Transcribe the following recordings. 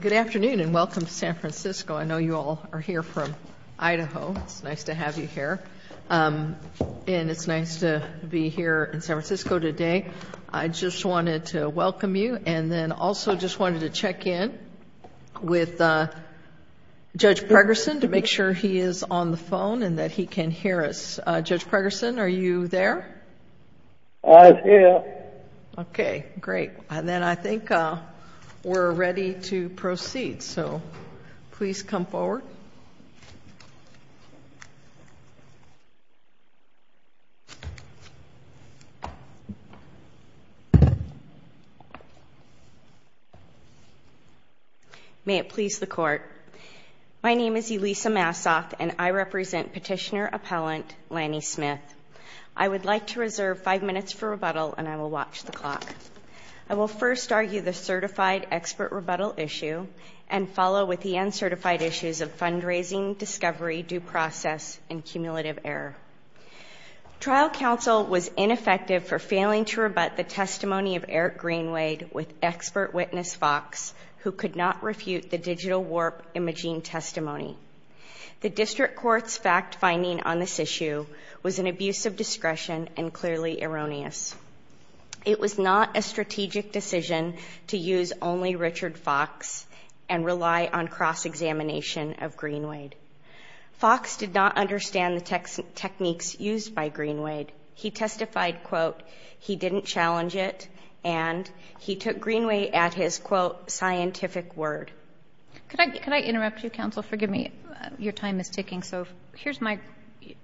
Good afternoon and welcome to San Francisco. I know you all are here from Idaho. It's nice to have you here. And it's nice to be here in San Francisco today. I just wanted to welcome you. And then also just wanted to check in with Judge Pregerson to make sure he is on the phone and that he can hear us. Judge Pregerson, are you there? I'm here. Okay, great. And then I think we're ready to proceed. So please come forward. May it please the Court. My name is Elisa Massoff and I represent Petitioner Appellant Lanny Smith. I would like to reserve five minutes for rebuttal and I will watch the clock. I will first argue the certified expert rebuttal issue and follow with the uncertified issues of fundraising, discovery, due process and cumulative error. Trial counsel was ineffective for failing to rebut the testimony of Eric Greenwade with expert witness Fox who could not refute the digital warp imaging testimony. The district court's fact finding on this issue was an abuse of discretion and clearly erroneous. It was not a strategic decision to use only Richard Fox and rely on cross-examination of Greenwade. Fox did not understand the techniques used by Greenwade. He testified, quote, he didn't challenge it and he took Greenwade at his, quote, scientific word. Could I interrupt you, counsel? Forgive me. Your time is ticking. So here's my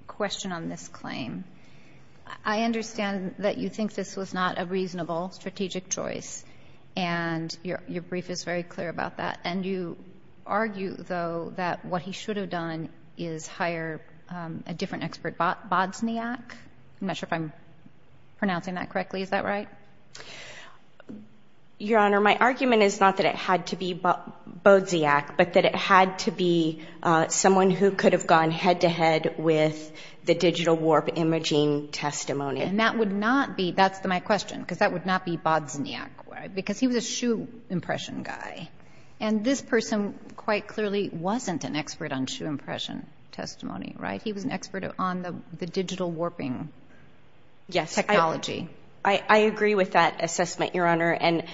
question on this claim. I understand that you think this was not a reasonable strategic choice and your brief is very clear about that. And you argue, though, that what he should have done is hire a different expert, Bodsniak. I'm not sure if I'm pronouncing that correctly. Is that right? Your Honor, my argument is not that it had to be Bodsniak, but that it had to be someone who could have gone head-to-head with the digital warp imaging testimony. And that would not be, that's my question, because that would not be Bodsniak, because he was a shoe impression guy. And this person quite clearly wasn't an expert on shoe impression testimony, right? He was an expert on the digital warping technology. I agree with that assessment, Your Honor. And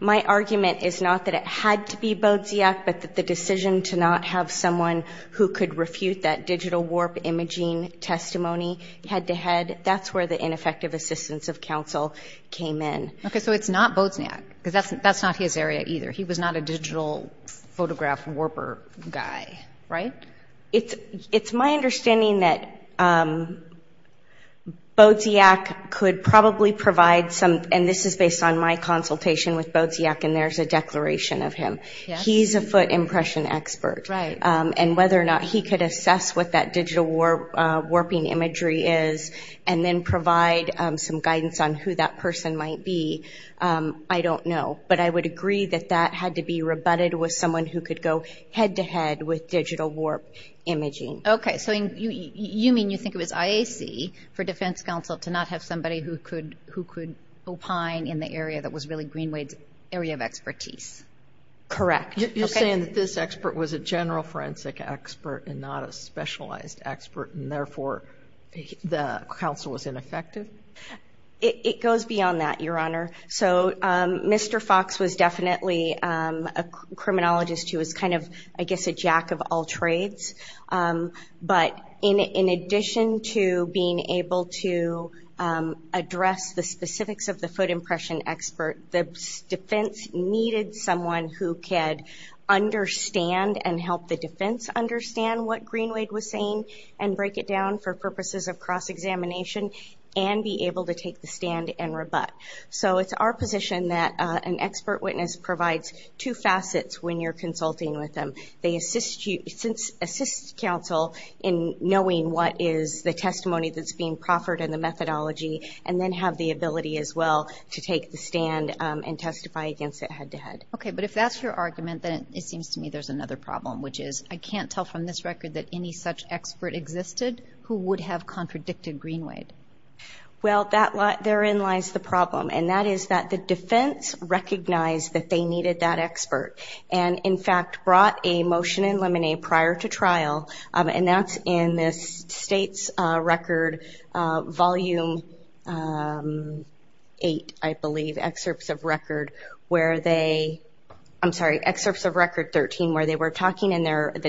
my argument is not that it had to be Bodsniak, but that the decision to not have someone who could refute that digital warp imaging testimony head-to-head, that's where the ineffective assistance of counsel came in. Okay, so it's not Bodsniak, because that's not his area either. He was not a digital photograph warper guy, right? It's my understanding that Bodsniak could probably provide some, and this is based on my consultation with Bodsniak, and there's a declaration of him. He's a foot impression expert. And whether or not he could assess what that digital warping imagery is and then provide some guidance on who that person might be, I don't know. But I would agree that that had to be rebutted with someone who could go head-to-head with digital warp imaging. Okay, so you mean you think it was IAC for defense counsel to not have somebody who could opine in the area that was really Greenwade's area of expertise? Correct. You're saying that this expert was a general forensic expert and not a specialized expert, and therefore the counsel was ineffective? It goes beyond that, Your Honor. So Mr. Fox was definitely a criminologist who was kind of, I guess, a jack of all trades. But in addition to being able to address the specifics of the foot impression expert, the defense needed someone who could understand and help the defense understand what Greenwade was saying and break it down for purposes of cross-examination and be able to take the stand and rebut. So it's our position that an expert witness provides two facets when you're consulting with them. They assist counsel in knowing what is the testimony that's being proffered and the methodology, and then have the ability as well to take the stand and testify against it head-to-head. Okay, but if that's your argument, then it seems to me there's another problem, which is I can't tell from this record that any such expert existed who would have contradicted Greenwade. Well, therein lies the problem, and that is that the defense recognized that they needed that expert and, in fact, brought a motion in limine prior to trial, and that's in the state's record, Volume 8, I believe, Excerpts of Record 13, where the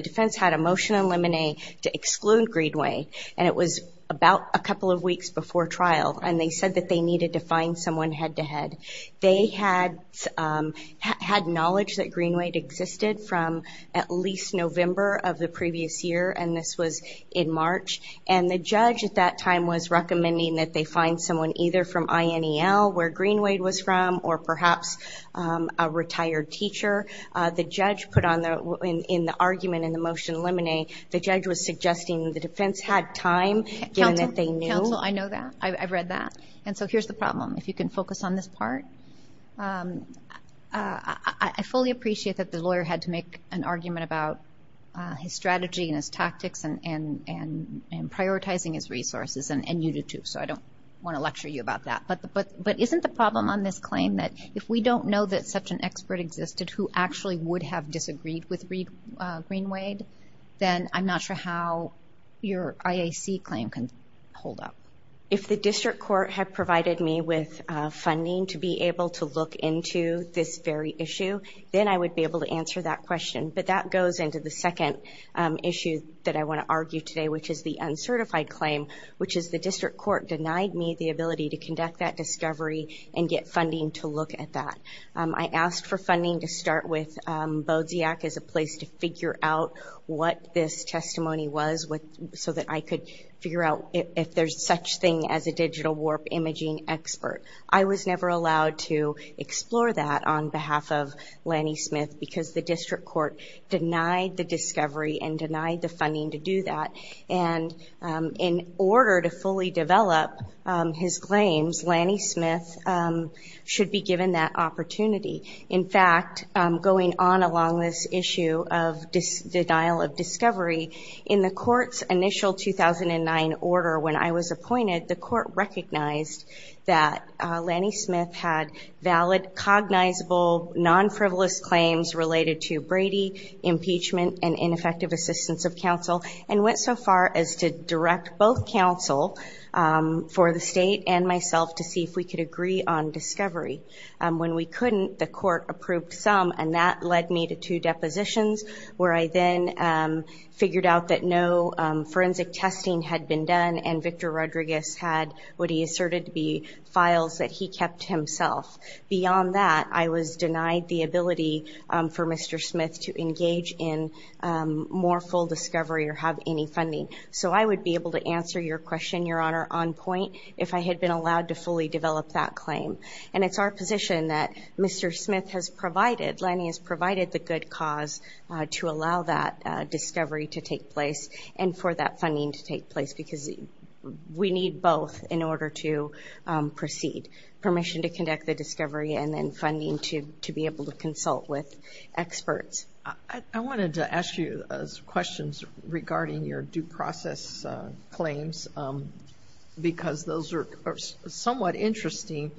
defense had a motion in limine to exclude Greenwade, and it was about a couple of weeks before trial, and they said that they needed to find someone head-to-head. They had knowledge that Greenwade existed from at least November of the previous year, and this was in March, and the judge at that time was recommending that they find someone either from INEL, where Greenwade was from, or perhaps a retired teacher. In the argument in the motion in limine, the judge was suggesting the defense had time, given that they knew. Counsel, I know that. I've read that. And so here's the problem, if you can focus on this part. I fully appreciate that the lawyer had to make an argument about his strategy and his tactics and prioritizing his resources, and you do too, so I don't want to lecture you about that. But isn't the problem on this claim that if we don't know that such an expert existed who actually would have disagreed with Greenwade, then I'm not sure how your IAC claim can hold up? If the district court had provided me with funding to be able to look into this very issue, then I would be able to answer that question, but that goes into the second issue that I want to argue today, which is the uncertified claim, which is the district court denied me the ability to conduct that discovery and get funding to look at that. I asked for funding to start with BODSIAC as a place to figure out what this testimony was so that I could figure out if there's such thing as a digital warp imaging expert. I was never allowed to explore that on behalf of Lanny Smith because the district court denied the discovery and denied the funding to do that. In order to fully develop his claims, Lanny Smith should be given that opportunity. In fact, going on along this issue of denial of discovery, in the court's initial 2009 order when I was appointed, the court recognized that Lanny Smith had valid, cognizable, non-frivolous claims related to Brady, impeachment, and ineffective assistance of counsel, and went so far as to direct both counsel for the state and myself to see if we could agree on discovery. When we couldn't, the court approved some, and that led me to two depositions where I then figured out that no forensic testing had been done and Victor Rodriguez had what he asserted to be files that he kept himself. Beyond that, I was denied the ability for Mr. Smith to engage in more full discovery or have any funding. So I would be able to answer your question, Your Honor, on point, if I had been allowed to fully develop that claim. And it's our position that Mr. Smith has provided, Lanny has provided the good cause to allow that discovery to take place and for that funding to take place because we need both in order to proceed. We need permission to conduct the discovery and then funding to be able to consult with experts. I wanted to ask you questions regarding your due process claims because those are somewhat interesting.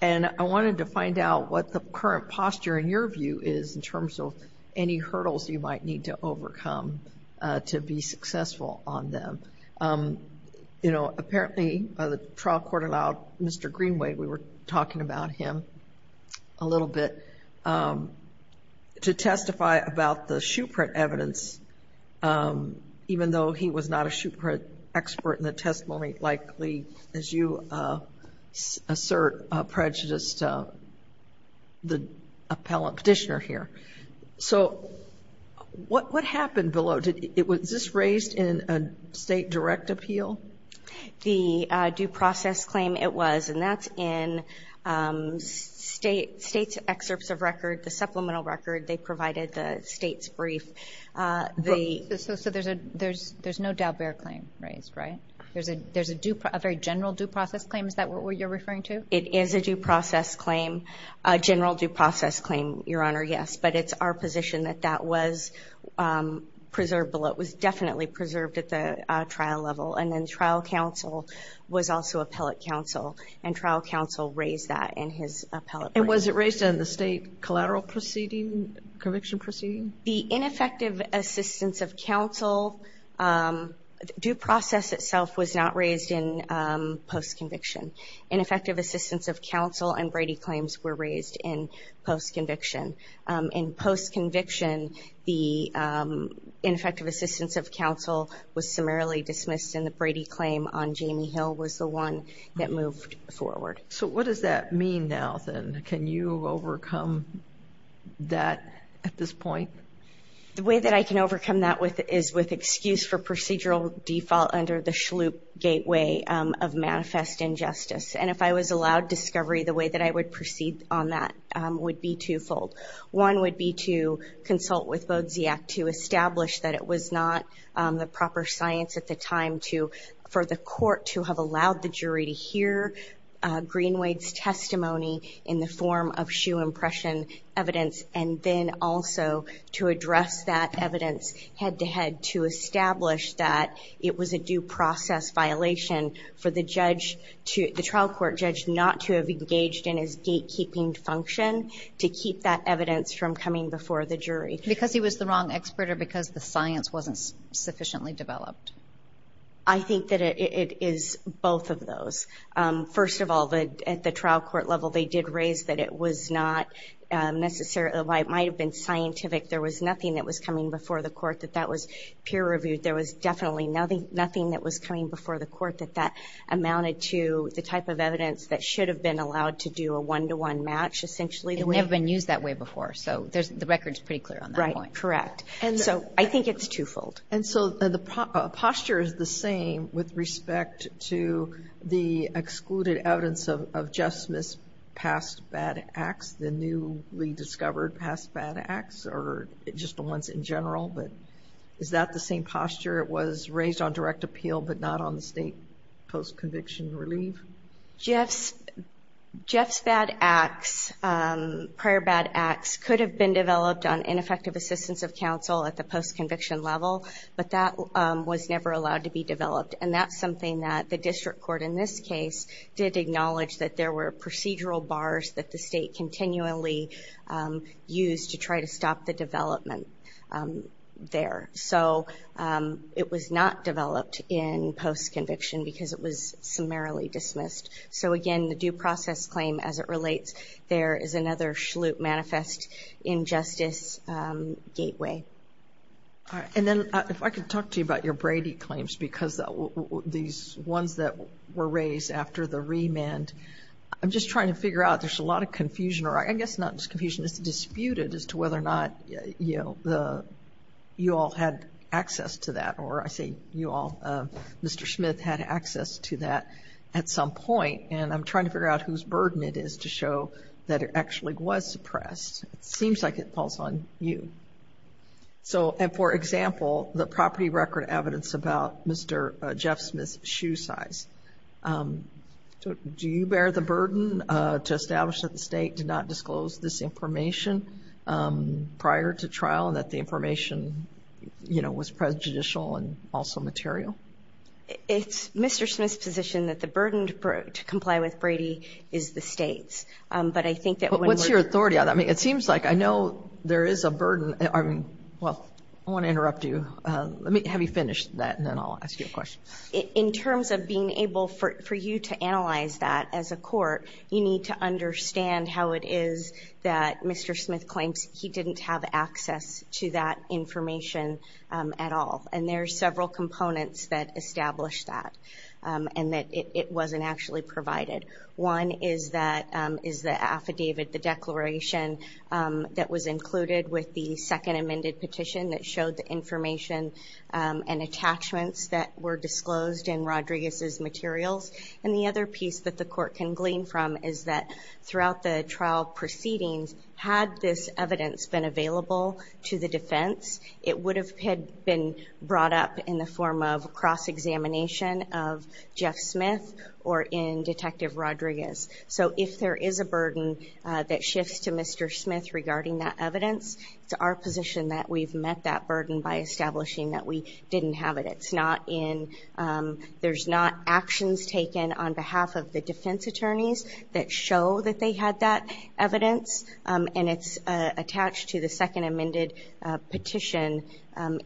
And I wanted to find out what the current posture, in your view, is in terms of any hurdles you might need to overcome to be successful on them. You know, apparently the trial court allowed Mr. Greenway, we were talking about him a little bit, to testify about the shoe print evidence, even though he was not a shoe print expert in the testimony, likely, as you assert, prejudiced the petitioner here. So what happened below? Was this raised in a state direct appeal? The due process claim it was, and that's in state's excerpts of record, the supplemental record. They provided the state's brief. So there's no Daubert claim raised, right? There's a very general due process claim, is that what you're referring to? It is a due process claim, a general due process claim, Your Honor, yes. But it's our position that that was preserved below. It was definitely preserved at the trial level. And then trial counsel was also appellate counsel, and trial counsel raised that in his appellate brief. And was it raised in the state collateral proceeding, conviction proceeding? The ineffective assistance of counsel, due process itself was not raised in post-conviction. Ineffective assistance of counsel and Brady claims were raised in post-conviction. In post-conviction, the ineffective assistance of counsel was summarily dismissed, and the Brady claim on Jamie Hill was the one that moved forward. So what does that mean now, then? Can you overcome that at this point? The way that I can overcome that is with excuse for procedural default under the Shloop gateway of manifest injustice. And if I was allowed discovery, the way that I would proceed on that would be twofold. One would be to consult with Bodziak to establish that it was not the proper science at the time for the court to have allowed the jury to hear Greenwade's testimony in the form of shoe impression evidence, and then also to address that evidence head-to-head to establish that it was a due process violation for the judge to, the trial court judge, not to have engaged in his gatekeeping function to keep that evidence from coming before the jury. Because he was the wrong expert or because the science wasn't sufficiently developed? I think that it is both of those. First of all, at the trial court level, they did raise that it was not necessarily, it might have been scientific. There was nothing that was coming before the court that that was peer-reviewed. There was definitely nothing that was coming before the court that that amounted to the type of evidence that should have been allowed to do a one-to-one match, essentially. It had never been used that way before, so the record's pretty clear on that one. Right, correct. And so I think it's twofold. And so the posture is the same with respect to the excluded evidence of Jeff Smith's past bad acts, the newly discovered past bad acts, or just the ones in general. But is that the same posture? It was raised on direct appeal but not on the state post-conviction relief? Jeff's bad acts, prior bad acts, could have been developed on ineffective assistance of counsel at the post-conviction level. But that was never allowed to be developed. And that's something that the district court, in this case, did acknowledge that there were procedural bars that the state continually used to try to stop the development there. So it was not developed in post-conviction because it was summarily dismissed. So, again, the due process claim, as it relates, there is another Schlute Manifest Injustice Gateway. And then if I could talk to you about your Brady claims, because these ones that were raised after the remand, I'm just trying to figure out, there's a lot of confusion, or I guess not just confusion, it's disputed as to whether or not you all had access to that. Or I say you all, Mr. Smith had access to that at some point, and I'm trying to figure out whose burden it is to show that it actually was suppressed. It seems like it falls on you. So, for example, the property record evidence about Mr. Jeff Smith's shoe size. Do you bear the burden to establish that the state did not disclose this information prior to trial and that the information was prejudicial and also material? It's Mr. Smith's position that the burden to comply with Brady is the state's. What's your authority on that? I mean, it seems like I know there is a burden. Well, I don't want to interrupt you. Let me have you finish that, and then I'll ask you a question. In terms of being able for you to analyze that as a court, you need to understand how it is that Mr. Smith claims he didn't have access to that information at all. And there are several components that establish that and that it wasn't actually provided. One is the affidavit, the declaration that was included with the second amended petition that showed the information and attachments that were disclosed in Rodriguez's materials. And the other piece that the court can glean from is that throughout the trial proceedings, had this evidence been available to the defense, it would have been brought up in the form of cross-examination of Jeff Smith or in Detective Rodriguez. So if there is a burden that shifts to Mr. Smith regarding that evidence, it's our position that we've met that burden by establishing that we didn't have it. There's not actions taken on behalf of the defense attorneys that show that they had that evidence, and it's attached to the second amended petition,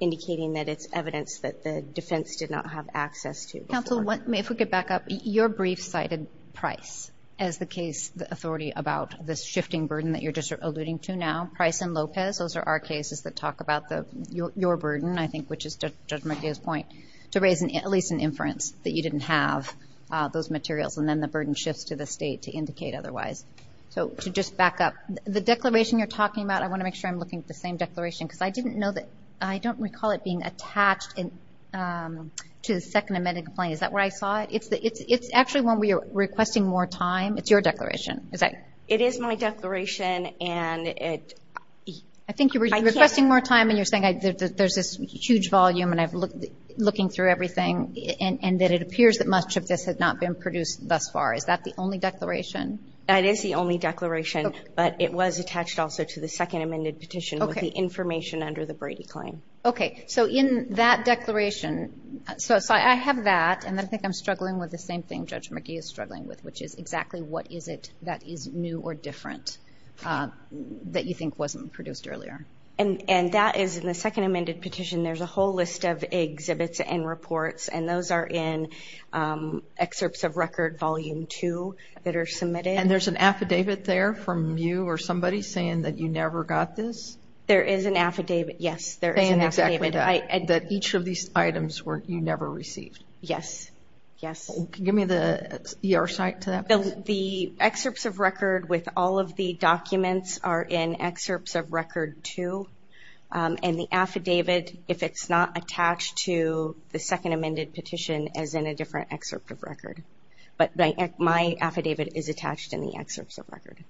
indicating that it's evidence that the defense did not have access to. Counsel, if we could back up. Your brief cited Price as the case authority about this shifting burden that you're just alluding to now. Price and Lopez, those are our cases that talk about your burden, I think, which is Judge McGee's point, to raise at least an inference that you didn't have those materials, and then the burden shifts to the state to indicate otherwise. So to just back up, the declaration you're talking about, I want to make sure I'm looking at the same declaration, because I don't recall it being attached to the second amended complaint. Is that where I saw it? It's actually one where you're requesting more time. It's your declaration. It is my declaration. I think you were requesting more time, and you're saying there's this huge volume, and I'm looking through everything, and that it appears that much of this has not been produced thus far. Is that the only declaration? That is the only declaration, but it was attached also to the second amended petition with the information under the Brady claim. Okay. So in that declaration, so I have that, and I think I'm struggling with the same thing Judge McGee is struggling with, which is exactly what is it that is new or different that you think wasn't produced earlier. And that is in the second amended petition. There's a whole list of exhibits and reports, and those are in excerpts of record volume two that are submitted. And there's an affidavit there from you or somebody saying that you never got this? There is an affidavit, yes. Saying exactly that, that each of these items you never received. Yes, yes. Give me the ER site to that. The excerpts of record with all of the documents are in excerpts of record two, and the affidavit, if it's not attached to the second amended petition, is in a different excerpt of record. But my affidavit is attached in the excerpts of record.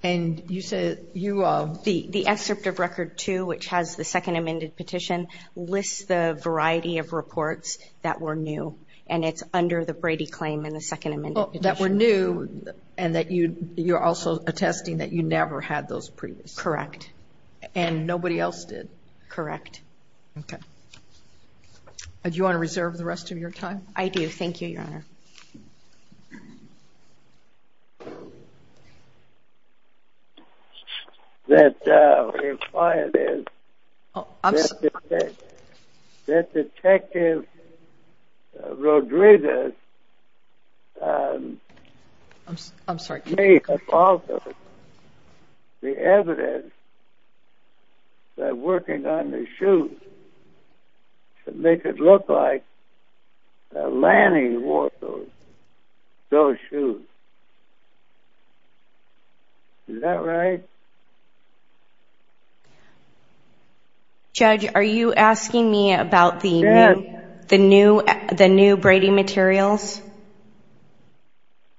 And you said you – The excerpt of record two, which has the second amended petition, lists the variety of reports that were new, and it's under the Brady claim in the second amended petition. That were new and that you're also attesting that you never had those previous. Correct. And nobody else did. Correct. Okay. Do you want to reserve the rest of your time? I do. Thank you, Your Honor. Thank you. That the client is – I'm sorry. That Detective Rodriguez – I'm sorry. That may have also the evidence that working on the shoes to make it look like that Lanny wore those shoes. Is that right? Judge, are you asking me about the new Brady materials?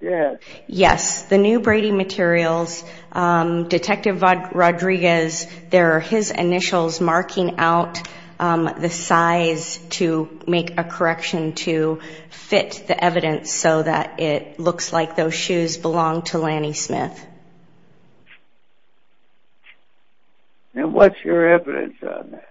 Yes. Yes. The new Brady materials, Detective Rodriguez, there are his initials marking out the size to make a correction to fit the evidence so that it looks like those shoes belong to Lanny Smith. And what's your evidence on that?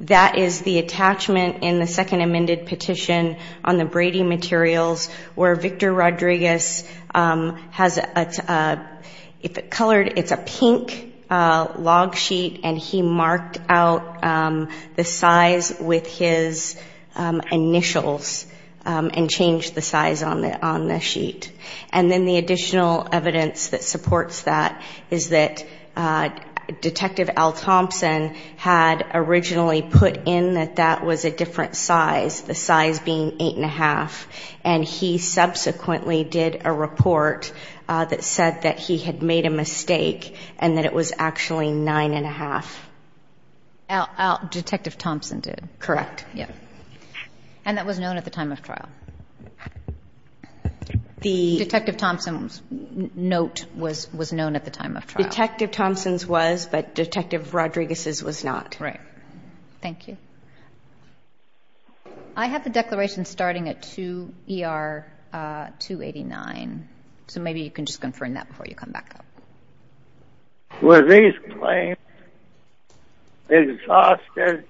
That is the attachment in the second amended petition on the Brady materials where Victor Rodriguez has it colored. It's a pink log sheet, and he marked out the size with his initials and changed the size on the sheet. And then the additional evidence that supports that is that Detective Al Thompson had originally put in that that was a different size, the size being 8 1⁄2, and he subsequently did a report that said that he had made a mistake and that it was actually 9 1⁄2. Detective Thompson did. And that was known at the time of trial. The Detective Thompson's note was known at the time of trial. Detective Thompson's was, but Detective Rodriguez's was not. Right. Thank you. I have the declaration starting at 2 ER 289, so maybe you can just confirm that before you come back up. Were these claims exhausted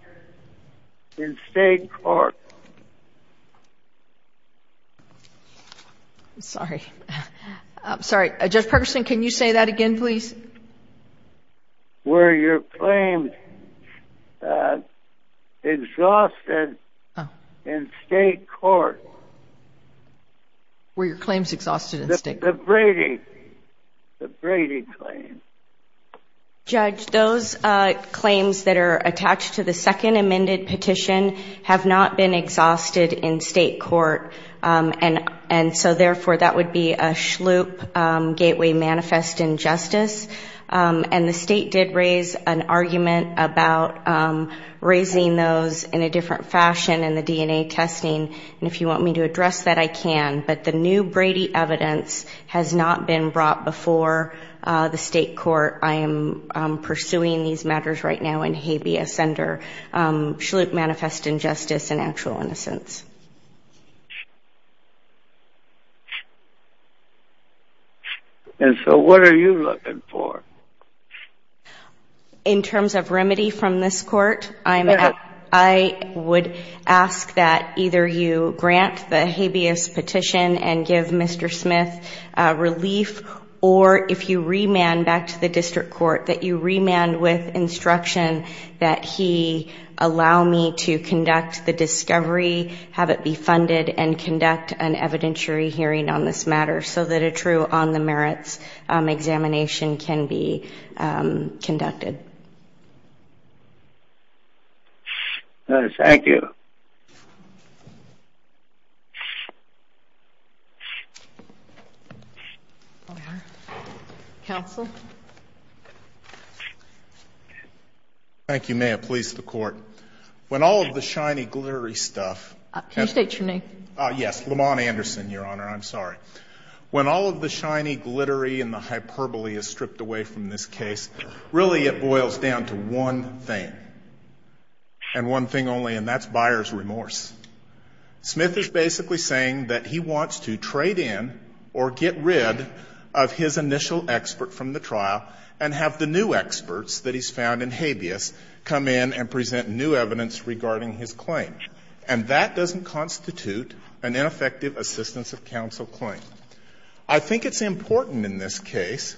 in state court? I'm sorry. I'm sorry. Judge Perkinson, can you say that again, please? Were your claims exhausted in state court? Were your claims exhausted in state court? The Brady claims. Judge, those claims that are attached to the second amended petition have not been exhausted in state court, and so therefore that would be a schloop gateway manifest injustice. And the state did raise an argument about raising those in a different fashion in the DNA testing, and if you want me to address that, I can. But the new Brady evidence has not been brought before the state court. I am pursuing these matters right now in habeas under schloop manifest injustice and actual innocence. And so what are you looking for? In terms of remedy from this court, I would ask that either you grant the habeas petition and give Mr. Smith relief, or if you remand back to the district court that you remand with instruction that he allow me to conduct the discovery, have it be funded, and conduct an evidentiary hearing on this matter so that a true on the merits examination can be conducted. Thank you. Counsel? Thank you, ma'am. Please, the court. When all of the shiny, glittery stuff... Can you state your name? Yes, Lamon Anderson, Your Honor. I'm sorry. When all of the shiny, glittery and the hyperbole is stripped away from this case, really it boils down to one thing, and one thing only, and that's buyer's remorse. Smith is basically saying that he wants to trade in or get rid of his initial expert from the trial and have the new experts that he's found in habeas come in and present new evidence regarding his claim. And that doesn't constitute an ineffective assistance of counsel claim. I think it's important in this case,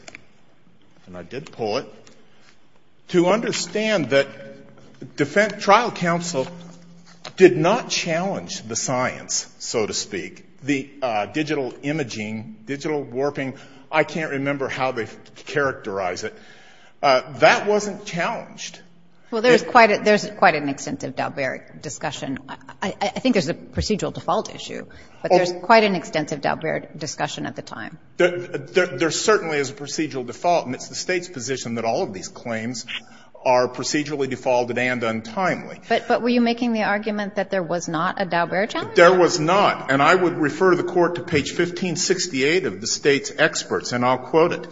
and I did pull it, to understand that trial counsel did not challenge the science, so to speak, the digital imaging, digital warping. I can't remember how they characterized it. That wasn't challenged. Well, there's quite an extensive Dalbert discussion. I think there's a procedural default issue, but there's quite an extensive Dalbert discussion at the time. There certainly is a procedural default, and it's the State's position that all of these claims are procedurally defaulted and untimely. But were you making the argument that there was not a Dalbert challenge? There was not. And I would refer the Court to page 1568 of the State's experts, and I'll quote it.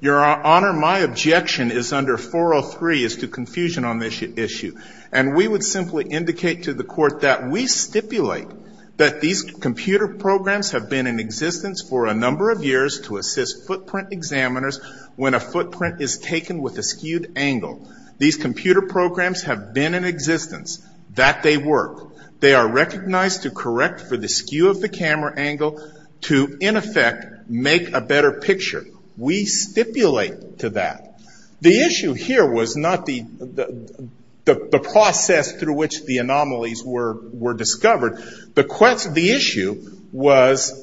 Your Honor, my objection is under 403 as to confusion on this issue. And we would simply indicate to the Court that we stipulate that these computer programs have been in existence for a number of years to assist footprint examiners when a footprint is taken with a skewed angle. These computer programs have been in existence, that they work. They are recognized to correct for the skew of the camera angle to, in effect, make a better picture. We stipulate to that. The issue here was not the process through which the anomalies were discovered. The issue was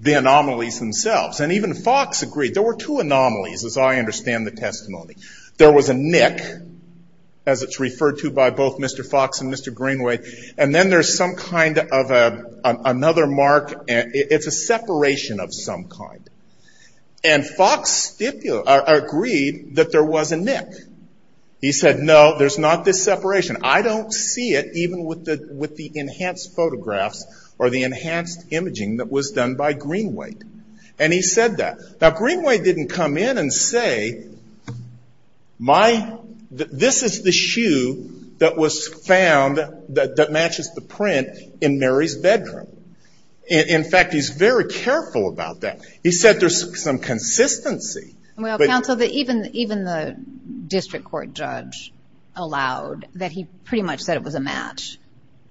the anomalies themselves. And even Fox agreed. There were two anomalies, as I understand the testimony. There was a nick, as it's referred to by both Mr. Fox and Mr. Greenway, and then there's some kind of another mark. It's a separation of some kind. And Fox agreed that there was a nick. He said, no, there's not this separation. I don't see it, even with the enhanced photographs or the enhanced imaging that was done by Greenway. And he said that. Now, Greenway didn't come in and say, this is the shoe that was found that matches the print in Mary's bedroom. In fact, he's very careful about that. He said there's some consistency. But. Well, counsel, even the district court judge allowed that he pretty much said it was a match.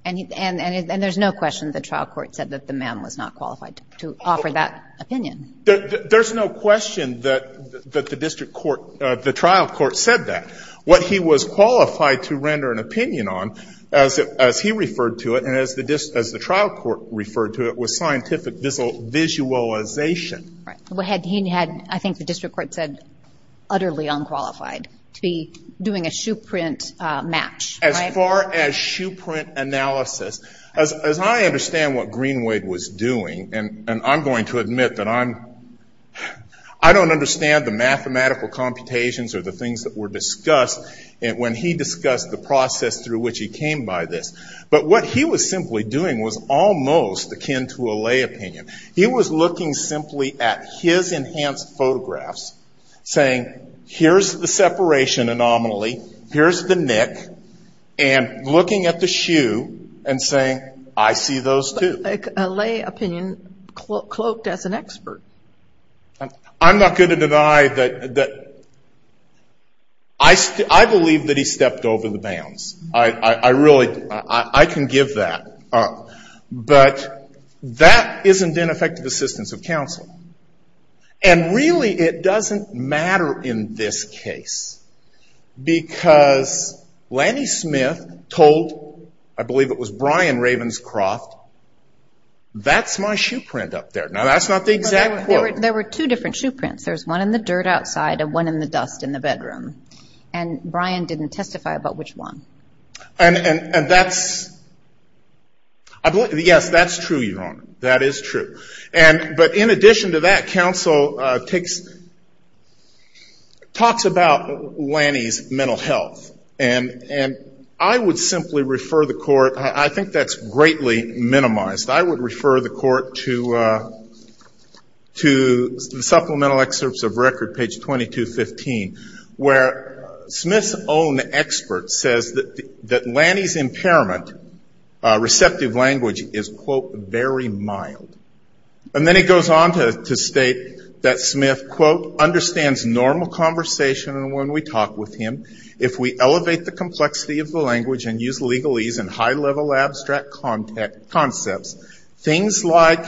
And there's no question the trial court said that the man was not qualified to offer that opinion. There's no question that the district court, the trial court said that. What he was qualified to render an opinion on, as he referred to it and as the trial court referred to it, was scientific visualization. He had, I think the district court said, utterly unqualified to be doing a shoe print match. As far as shoe print analysis, as I understand what Greenway was doing, and I'm going to admit that I don't understand the mathematical computations or the things that were discussed when he discussed the process through which he came by this. But what he was simply doing was almost akin to a lay opinion. He was looking simply at his enhanced photographs, saying, here's the separation anomaly. Here's the nick. And looking at the shoe and saying, I see those, too. A lay opinion cloaked as an expert. I'm not going to deny that I believe that he stepped over the bounds. I really, I can give that. But that isn't in effective assistance of counsel. And really, it doesn't matter in this case. Because Lanny Smith told, I believe it was Brian Ravenscroft, that's my shoe print up there. Now, that's not the exact quote. There were two different shoe prints. There was one in the dirt outside and one in the dust in the bedroom. And Brian didn't testify about which one. And that's, yes, that's true, Your Honor. That is true. But in addition to that, counsel takes, talks about Lanny's mental health. And I would simply refer the court, I think that's greatly minimized. I would refer the court to the supplemental excerpts of record, page 2215, where Smith's own expert says that Lanny's impairment, receptive language, is, quote, very mild. And then he goes on to state that Smith, quote, understands normal conversation when we talk with him. If we elevate the complexity of the language and use legalese and high-level abstract concepts, things like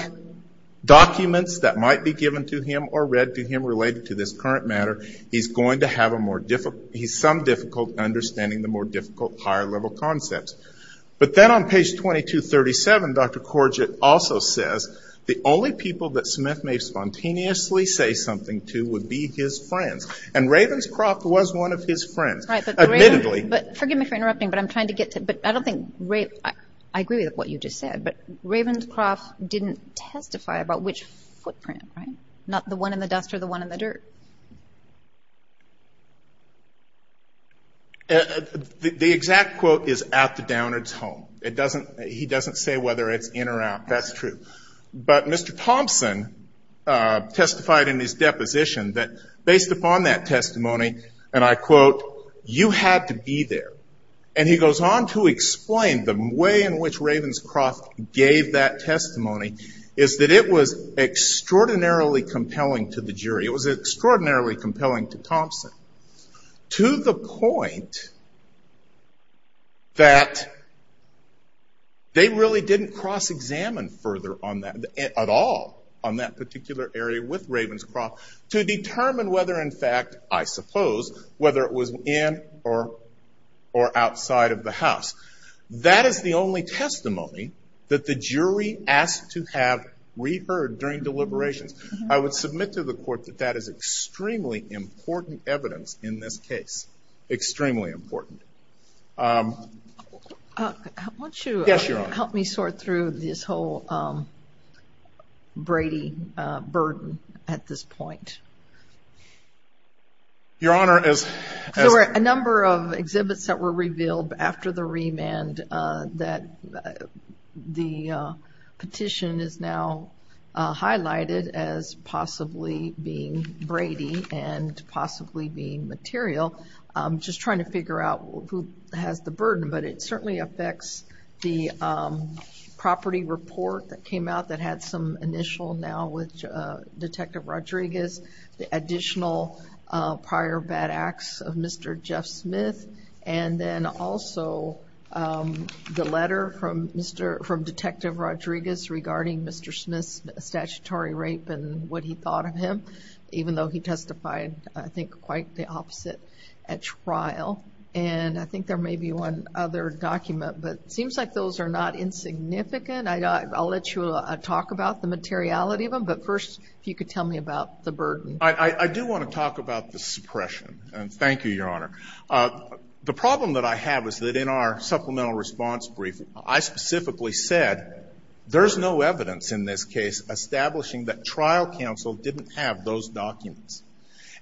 documents that might be given to him or read to him related to this current matter, he's going to have a more difficult, he's some difficult understanding the more difficult higher-level concepts. But then on page 2237, Dr. Korget also says, the only people that Smith may spontaneously say something to would be his friends. And Ravenscroft was one of his friends, admittedly. But forgive me for interrupting, but I'm trying to get to, but I don't think, I agree with what you just said, but Ravenscroft didn't testify about which footprint, right? Not the one in the dust or the one in the dirt. The exact quote is at the Downard's home. It doesn't, he doesn't say whether it's in or out. That's true. But Mr. Thompson testified in his deposition that based upon that testimony, and I quote, you had to be there. And he goes on to explain the way in which Ravenscroft gave that testimony is that it was extraordinarily compelling to the jury. It was extraordinarily compelling to Thompson. To the point that they really didn't cross-examine further on that, at all, on that particular area with Ravenscroft to determine whether in fact, I suppose, whether it was in or outside of the house. That is the only testimony that the jury asked to have reheard during deliberations. I would submit to the court that that is extremely important evidence in this case. Extremely important. Yes, Your Honor. Help me sort through this whole Brady burden at this point. Your Honor, as. There were a number of exhibits that were revealed after the remand that the petition is now highlighted as possibly being Brady and possibly being material. I'm just trying to figure out who has the burden, but it certainly affects the property report that came out that had some initial now with Detective Rodriguez, the additional prior bad acts of Mr. Jeff Smith, and then also the letter from Detective Rodriguez regarding Mr. Smith's statutory rape and what he thought of him, even though he testified, I think, quite the opposite at trial. And I think there may be one other document, but it seems like those are not insignificant. I'll let you talk about the materiality of them, but first, if you could tell me about the burden. I do want to talk about the suppression, and thank you, Your Honor. The problem that I have is that in our supplemental response brief, I specifically said, there's no evidence in this case establishing that trial counsel didn't have those documents.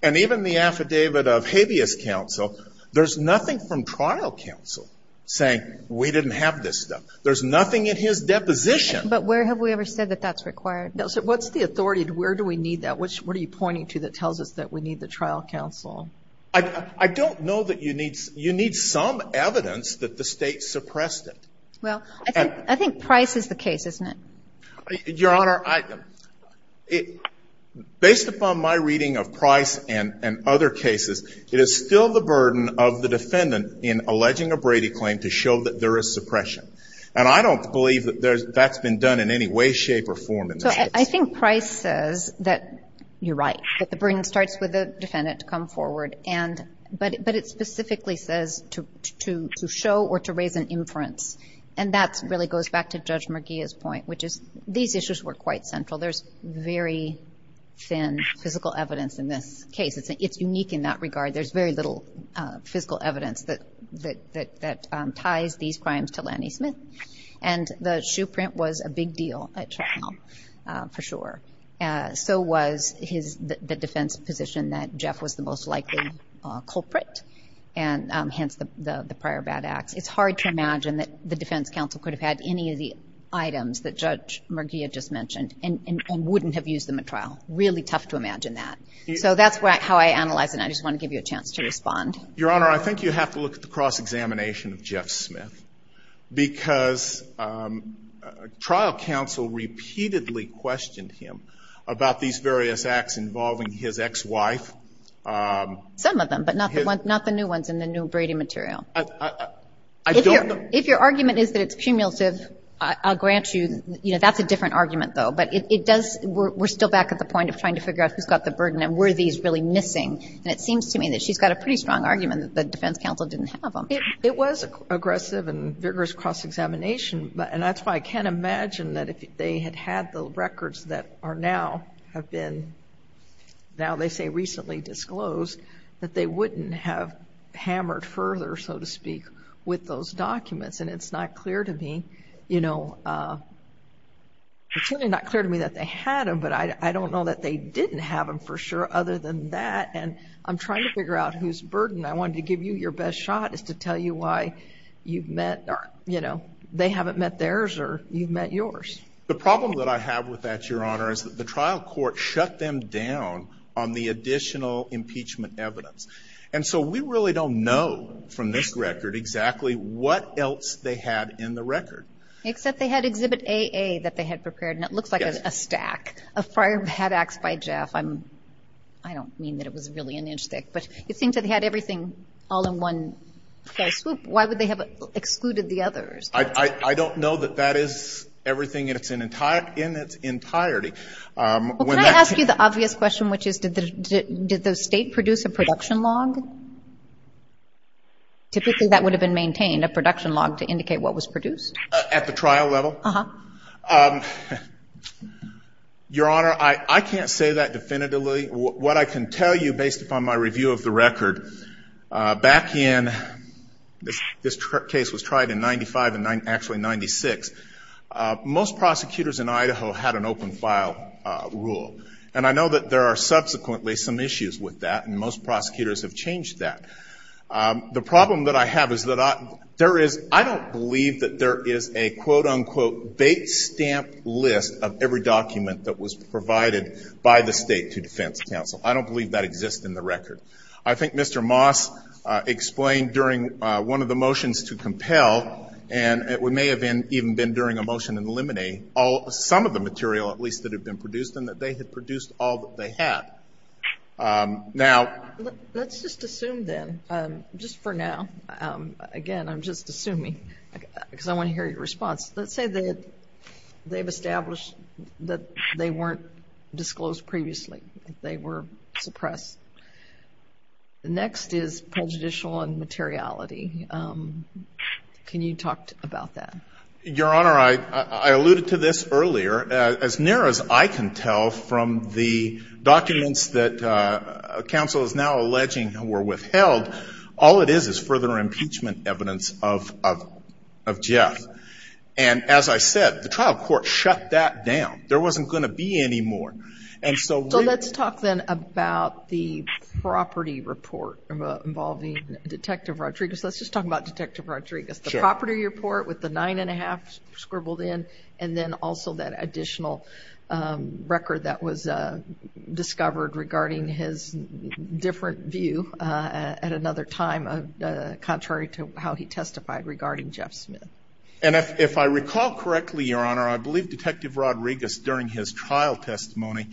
And even the affidavit of habeas counsel, there's nothing from trial counsel saying we didn't have this stuff. There's nothing in his deposition. But where have we ever said that that's required? No, so what's the authority? Where do we need that? What are you pointing to that tells us that we need the trial counsel? I don't know that you need some evidence that the state suppressed it. Well, I think Price is the case, isn't it? Your Honor, based upon my reading of Price and other cases, it is still the burden of the defendant in alleging a Brady claim to show that there is suppression. And I don't believe that that's been done in any way, shape, or form in this case. So I think Price says that you're right, that the burden starts with the defendant to come forward. But it specifically says to show or to raise an inference. And that really goes back to Judge Merguia's point, which is these issues were quite central. There's very thin physical evidence in this case. It's unique in that regard. There's very little physical evidence that ties these crimes to Lanny Smith. And the shoe print was a big deal at Chucknell, for sure. So was the defense position that Jeff was the most likely culprit, and hence the prior bad acts. It's hard to imagine that the defense counsel could have had any of the items that Judge Merguia just mentioned and wouldn't have used them at trial. Really tough to imagine that. So that's how I analyze it, and I just want to give you a chance to respond. Your Honor, I think you have to look at the cross-examination of Jeff Smith. Because trial counsel repeatedly questioned him about these various acts involving his ex-wife. Some of them, but not the new ones in the new Brady material. If your argument is that it's cumulative, I'll grant you, that's a different argument, though. But we're still back at the point of trying to figure out who's got the burden and were these really missing. And it seems to me that she's got a pretty strong argument that the defense counsel didn't have them. It was aggressive and vigorous cross-examination, and that's why I can't imagine that if they had had the records that are now, have been, now they say recently disclosed, that they wouldn't have hammered further, so to speak, with those documents. And it's not clear to me that they had them, but I don't know that they didn't have them for sure other than that. And I'm trying to figure out who's burdened. I wanted to give you your best shot as to tell you why they haven't met theirs or you've met yours. The problem that I have with that, Your Honor, is that the trial court shut them down on the additional impeachment evidence. And so we really don't know from this record exactly what else they had in the record. Except they had Exhibit AA that they had prepared, and it looks like a stack of prior bad acts by Jeff. I don't mean that it was really an inch thick, but it seems that they had everything all in one fell swoop. Why would they have excluded the others? I don't know that that is everything in its entirety. Well, can I ask you the obvious question, which is did the State produce a production log? Typically that would have been maintained, a production log to indicate what was produced. At the trial level? Uh-huh. Your Honor, I can't say that definitively. But what I can tell you based upon my review of the record, back in, this case was tried in 95 and actually 96, most prosecutors in Idaho had an open file rule. And I know that there are subsequently some issues with that, and most prosecutors have changed that. The problem that I have is that there is, I don't believe that there is a quote-unquote bait-stamp list of every document that was provided by the State to defense counsel. I don't believe that exists in the record. I think Mr. Moss explained during one of the motions to compel, and it may have even been during a motion in the limine, some of the material at least that had been produced, and that they had produced all that they had. Let's just assume then, just for now, again, I'm just assuming, because I want to hear your response. Let's say that they've established that they weren't disclosed previously, that they were suppressed. Next is prejudicial and materiality. Can you talk about that? Your Honor, I alluded to this earlier. As near as I can tell from the documents that counsel is now alleging were withheld, all it is is further impeachment evidence of Jeff. As I said, the trial court shut that down. There wasn't going to be any more. Let's talk then about the property report involving Detective Rodriguez. Let's just talk about Detective Rodriguez. The property report with the nine and a half scribbled in, and then also that additional record that was discovered regarding his different view at another time contrary to how he testified regarding Jeff Smith. If I recall correctly, Your Honor, I believe Detective Rodriguez during his trial testimony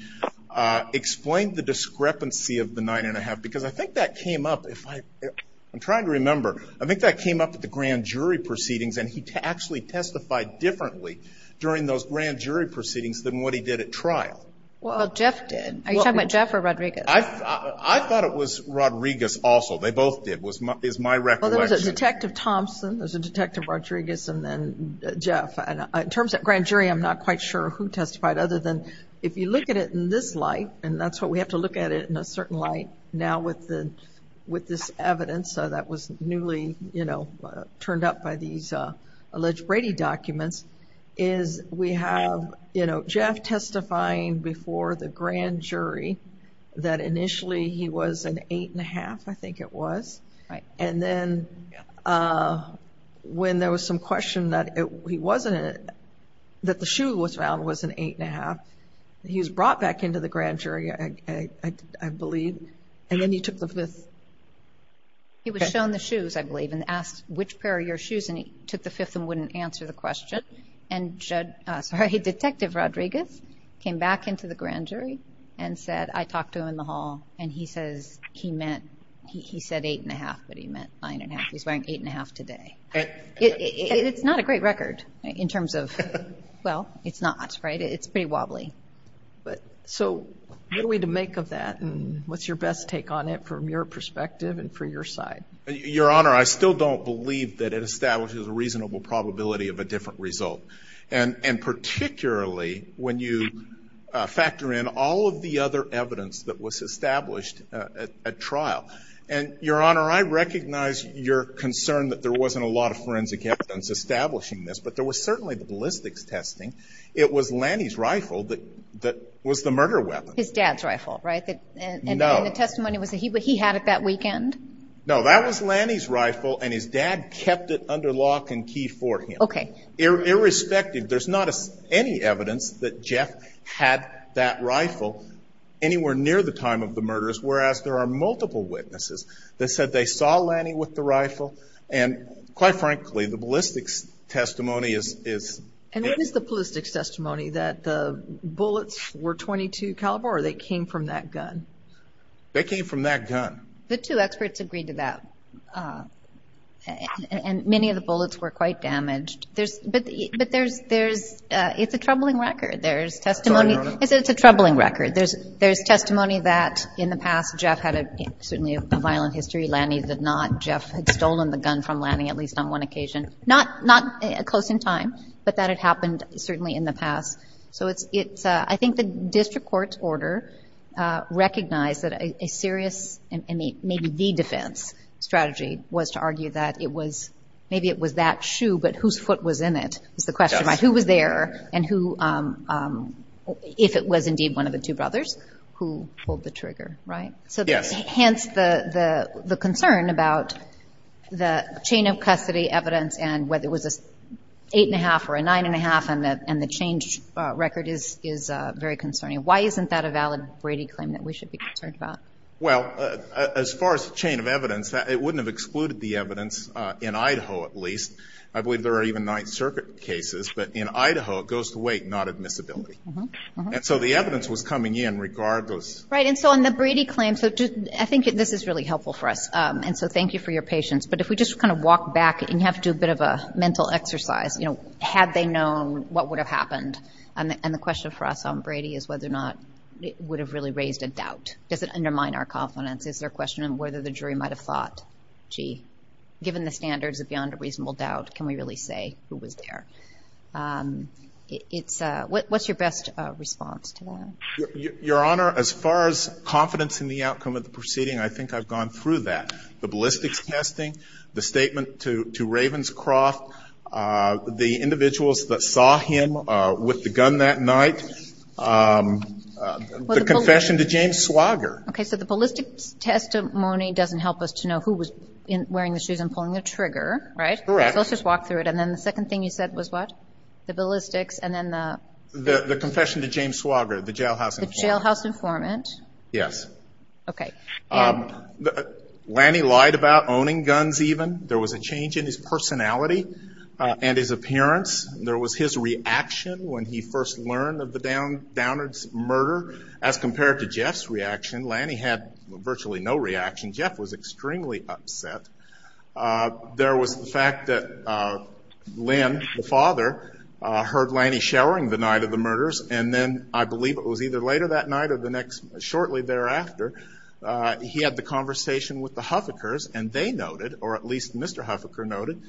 explained the discrepancy of the nine and a half because I think that came up. I'm trying to remember. I think that came up at the grand jury proceedings, and he actually testified differently during those grand jury proceedings than what he did at trial. Well, Jeff did. Are you talking about Jeff or Rodriguez? I thought it was Rodriguez also. They both did is my recollection. Well, there was a Detective Thompson, there's a Detective Rodriguez, and then Jeff. In terms of grand jury, I'm not quite sure who testified other than if you look at it in this light, and that's what we have to look at it in a certain light now with this evidence that was newly turned up by these alleged Brady documents, is we have Jeff testifying before the grand jury that initially he was an eight and a half, I think it was. And then when there was some question that the shoe was found was an eight and a half, he was brought back into the grand jury, I believe, and then he took the fifth. He was shown the shoes, I believe, and asked, which pair are your shoes, and he took the fifth and wouldn't answer the question. And Detective Rodriguez came back into the grand jury and said, I talked to him in the hall, and he said eight and a half, but he meant nine and a half. He's wearing eight and a half today. It's not a great record in terms of, well, it's not, right? It's pretty wobbly. So what are we to make of that, and what's your best take on it from your perspective and for your side? Your Honor, I still don't believe that it establishes a reasonable probability of a different result, and particularly when you factor in all of the other evidence that was established at trial. And, Your Honor, I recognize your concern that there wasn't a lot of forensic evidence establishing this, but there was certainly the ballistics testing. It was Lanny's rifle that was the murder weapon. His dad's rifle, right? No. And the testimony was that he had it that weekend? No, that was Lanny's rifle, and his dad kept it under lock and key for him. Okay. Irrespective, there's not any evidence that Jeff had that rifle anywhere near the time of the murders, whereas there are multiple witnesses that said they saw Lanny with the rifle, and quite frankly, the ballistics testimony is... And what is the ballistics testimony, that the bullets were .22 caliber, or they came from that gun? They came from that gun. The two experts agreed to that, and many of the bullets were quite damaged. But it's a troubling record. It's a troubling record. There's testimony that, in the past, Jeff had certainly a violent history. Lanny did not. Jeff had stolen the gun from Lanny, at least on one occasion. Not close in time, but that had happened certainly in the past. I think the district court order recognized that a serious, and maybe the defense strategy, was to argue that maybe it was that shoe, but whose foot was in it was the question. Who was there, and if it was indeed one of the two brothers, who pulled the trigger, right? Yes. Hence the concern about the chain of custody evidence, and whether it was an eight-and-a-half or a nine-and-a-half, and the change record is very concerning. Why isn't that a valid Brady claim that we should be concerned about? Well, as far as the chain of evidence, it wouldn't have excluded the evidence in Idaho, at least. I believe there are even Ninth Circuit cases, but in Idaho, it goes to weight, not admissibility. And so the evidence was coming in regardless. Right, and so on the Brady claim, I think this is really helpful for us. And so thank you for your patience. But if we just kind of walk back, and you have to do a bit of a mental exercise, you know, had they known what would have happened, and the question for us on Brady is whether or not it would have really raised a doubt. Does it undermine our confidence? Is there a question of whether the jury might have thought, gee, given the standards of beyond a reasonable doubt, can we really say who was there? What's your best response to that? Your Honor, as far as confidence in the outcome of the proceeding, I think I've gone through that. The ballistics testing, the statement to Ravenscroft, the individuals that saw him with the gun that night, the confession to James Swager. Okay, so the ballistics testimony doesn't help us to know who was wearing the shoes and pulling the trigger, right? Correct. So let's just walk through it. And then the second thing you said was what? The ballistics and then the? The confession to James Swager, the jailhouse informant. The jailhouse informant. Yes. Okay. Lanny lied about owning guns even. There was a change in his personality and his appearance. There was his reaction when he first learned of the Downards murder. As compared to Jeff's reaction, Lanny had virtually no reaction. Jeff was extremely upset. There was the fact that Lynn, the father, heard Lanny showering the night of the murders. And then I believe it was either later that night or shortly thereafter, he had the conversation with the Huffikers. And they noted, or at least Mr. Huffiker noted,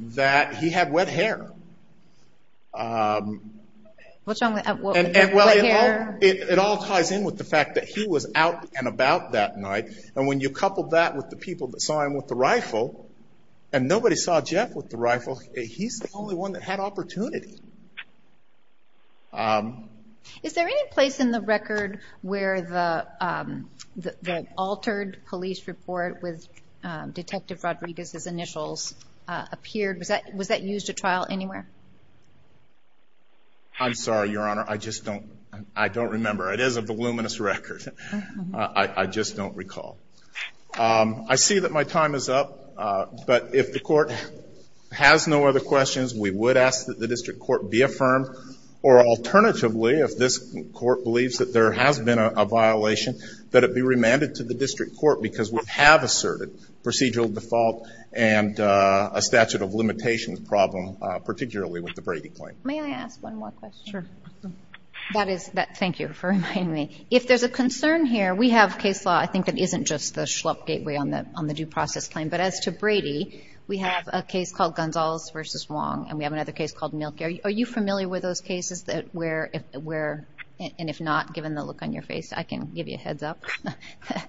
that he had wet hair. What's wrong with wet hair? It all ties in with the fact that he was out and about that night. And when you couple that with the people that saw him with the rifle, and nobody saw Jeff with the rifle, he's the only one that had opportunity. Is there any place in the record where the altered police report with Detective Rodriguez's initials appeared? Was that used at trial anywhere? I'm sorry, Your Honor. I just don't remember. It is a voluminous record. I just don't recall. I see that my time is up. But if the Court has no other questions, we would ask that the district court be affirmed, or alternatively, if this Court believes that there has been a violation, that it be remanded to the district court because we have asserted procedural default and a statute of limitations problem, particularly with the Brady claim. May I ask one more question? Sure. Thank you for reminding me. If there's a concern here, we have case law, I think, that isn't just the Schlupp gateway on the due process claim. But as to Brady, we have a case called Gonzales v. Wong, and we have another case called Milk. Are you familiar with those cases? And if not, given the look on your face, I can give you a heads up.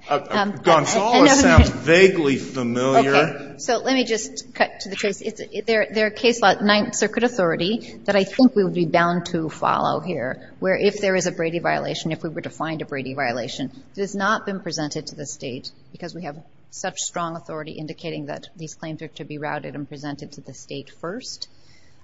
Gonzales sounds vaguely familiar. Okay. So let me just cut to the chase. There are case law at Ninth Circuit Authority that I think we would be bound to follow here, where if there is a Brady violation, if we were to find a Brady violation, it has not been presented to the state, because we have such strong authority indicating that these claims are to be routed and presented to the state first.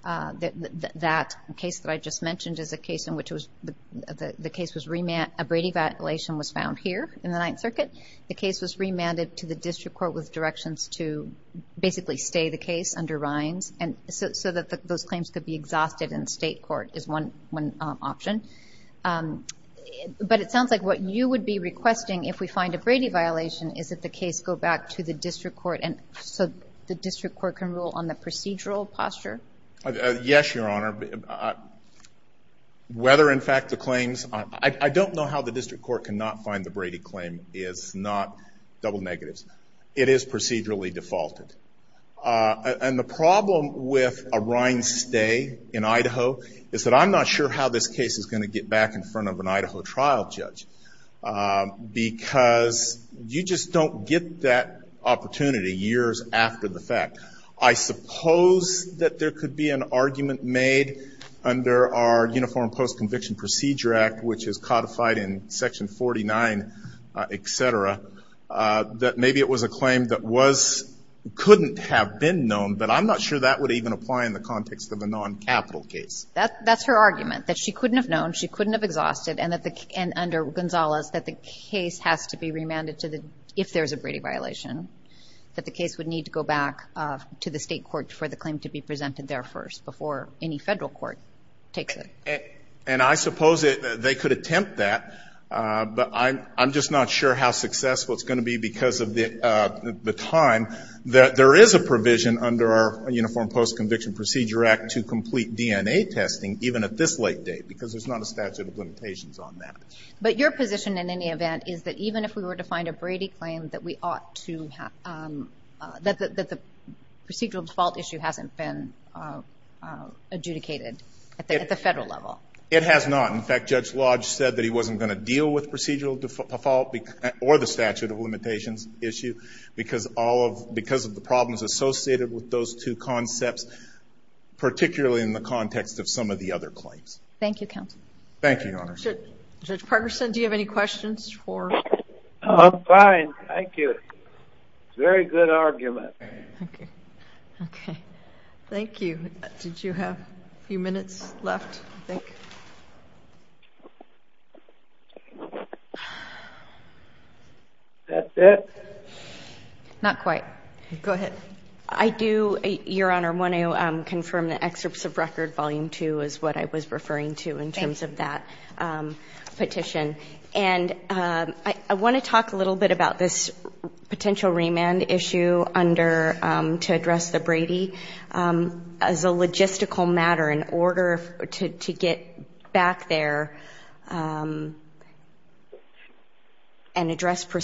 That case that I just mentioned is a case in which the case was remanded. A Brady violation was found here in the Ninth Circuit. The case was remanded to the district court with directions to basically stay the case under Rhines, so that those claims could be exhausted in state court is one option. But it sounds like what you would be requesting, if we find a Brady violation, is that the case go back to the district court so the district court can rule on the procedural posture. Yes, Your Honor. I don't know how the district court cannot find the Brady claim is not double negatives. It is procedurally defaulted. And the problem with a Rhines stay in Idaho is that I'm not sure how this case is going to get back in front of an Idaho trial judge, because you just don't get that opportunity years after the fact. I suppose that there could be an argument made under our Uniform Post-Conviction Procedure Act, which is codified in Section 49, et cetera, that maybe it was a claim that couldn't have been known, but I'm not sure that would even apply in the context of a non-capital case. That's her argument, that she couldn't have known, she couldn't have exhausted, and under Gonzales, that the case has to be remanded if there's a Brady violation, that the case would need to go back to the state court for the claim to be presented there first, before any Federal court takes it. And I suppose they could attempt that, but I'm just not sure how successful it's going to be, because of the time that there is a provision under our Uniform Post-Conviction Procedure Act to complete DNA testing, even at this late date, because there's not a statute of limitations on that. But your position, in any event, is that even if we were to find a Brady claim that we ought to have, that the procedural default issue hasn't been adjudicated at the Federal level? It has not. In fact, Judge Lodge said that he wasn't going to deal with procedural default or the statute of limitations issue, because of the problems associated with those two concepts, particularly in the context of some of the other claims. Thank you, counsel. Thank you, Your Honor. Judge Parkerson, do you have any questions? I'm fine, thank you. It's a very good argument. Okay. Thank you. Did you have a few minutes left, I think? Is that it? Not quite. Go ahead. I do, Your Honor, want to confirm the excerpts of record, Volume 2, is what I was referring to in terms of that petition. And I want to talk a little bit about this potential remand issue to address the Brady. As a logistical matter, in order to get back there and address the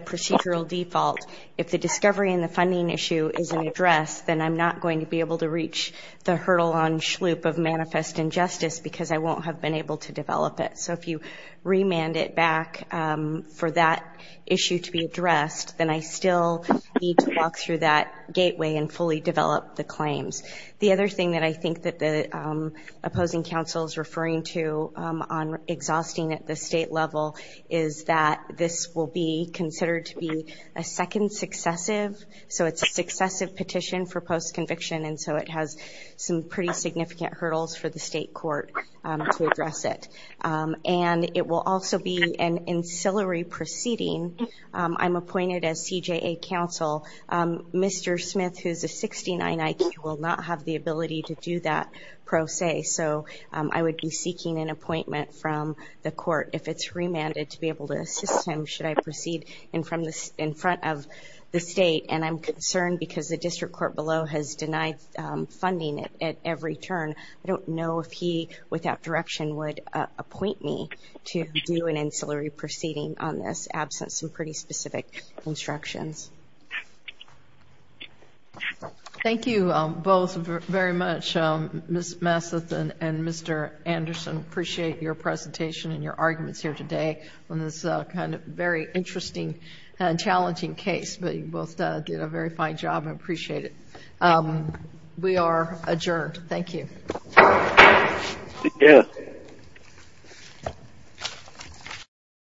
procedural default, if the discovery and the funding issue isn't addressed, then I'm not going to be able to reach the hurdle on Shloop of manifest injustice because I won't have been able to develop it. So if you remand it back for that issue to be addressed, then I still need to walk through that gateway and fully develop the claims. The other thing that I think that the opposing counsel is referring to on exhausting at the state level is that this will be considered to be a second successive. So it's a successive petition for post-conviction, and so it has some pretty significant hurdles for the state court to address it. And it will also be an ancillary proceeding. I'm appointed as CJA counsel. Mr. Smith, who is a 69 IQ, will not have the ability to do that pro se, so I would be seeking an appointment from the court. If it's remanded to be able to assist him, should I proceed in front of the state? And I'm concerned because the district court below has denied funding at every turn. I don't know if he, without direction, would appoint me to do an ancillary proceeding on this absent some pretty specific instructions. Thank you both very much, Ms. Masseth and Mr. Anderson. I appreciate your presentation and your arguments here today on this kind of very interesting and challenging case. But you both did a very fine job. I appreciate it. We are adjourned. Thank you.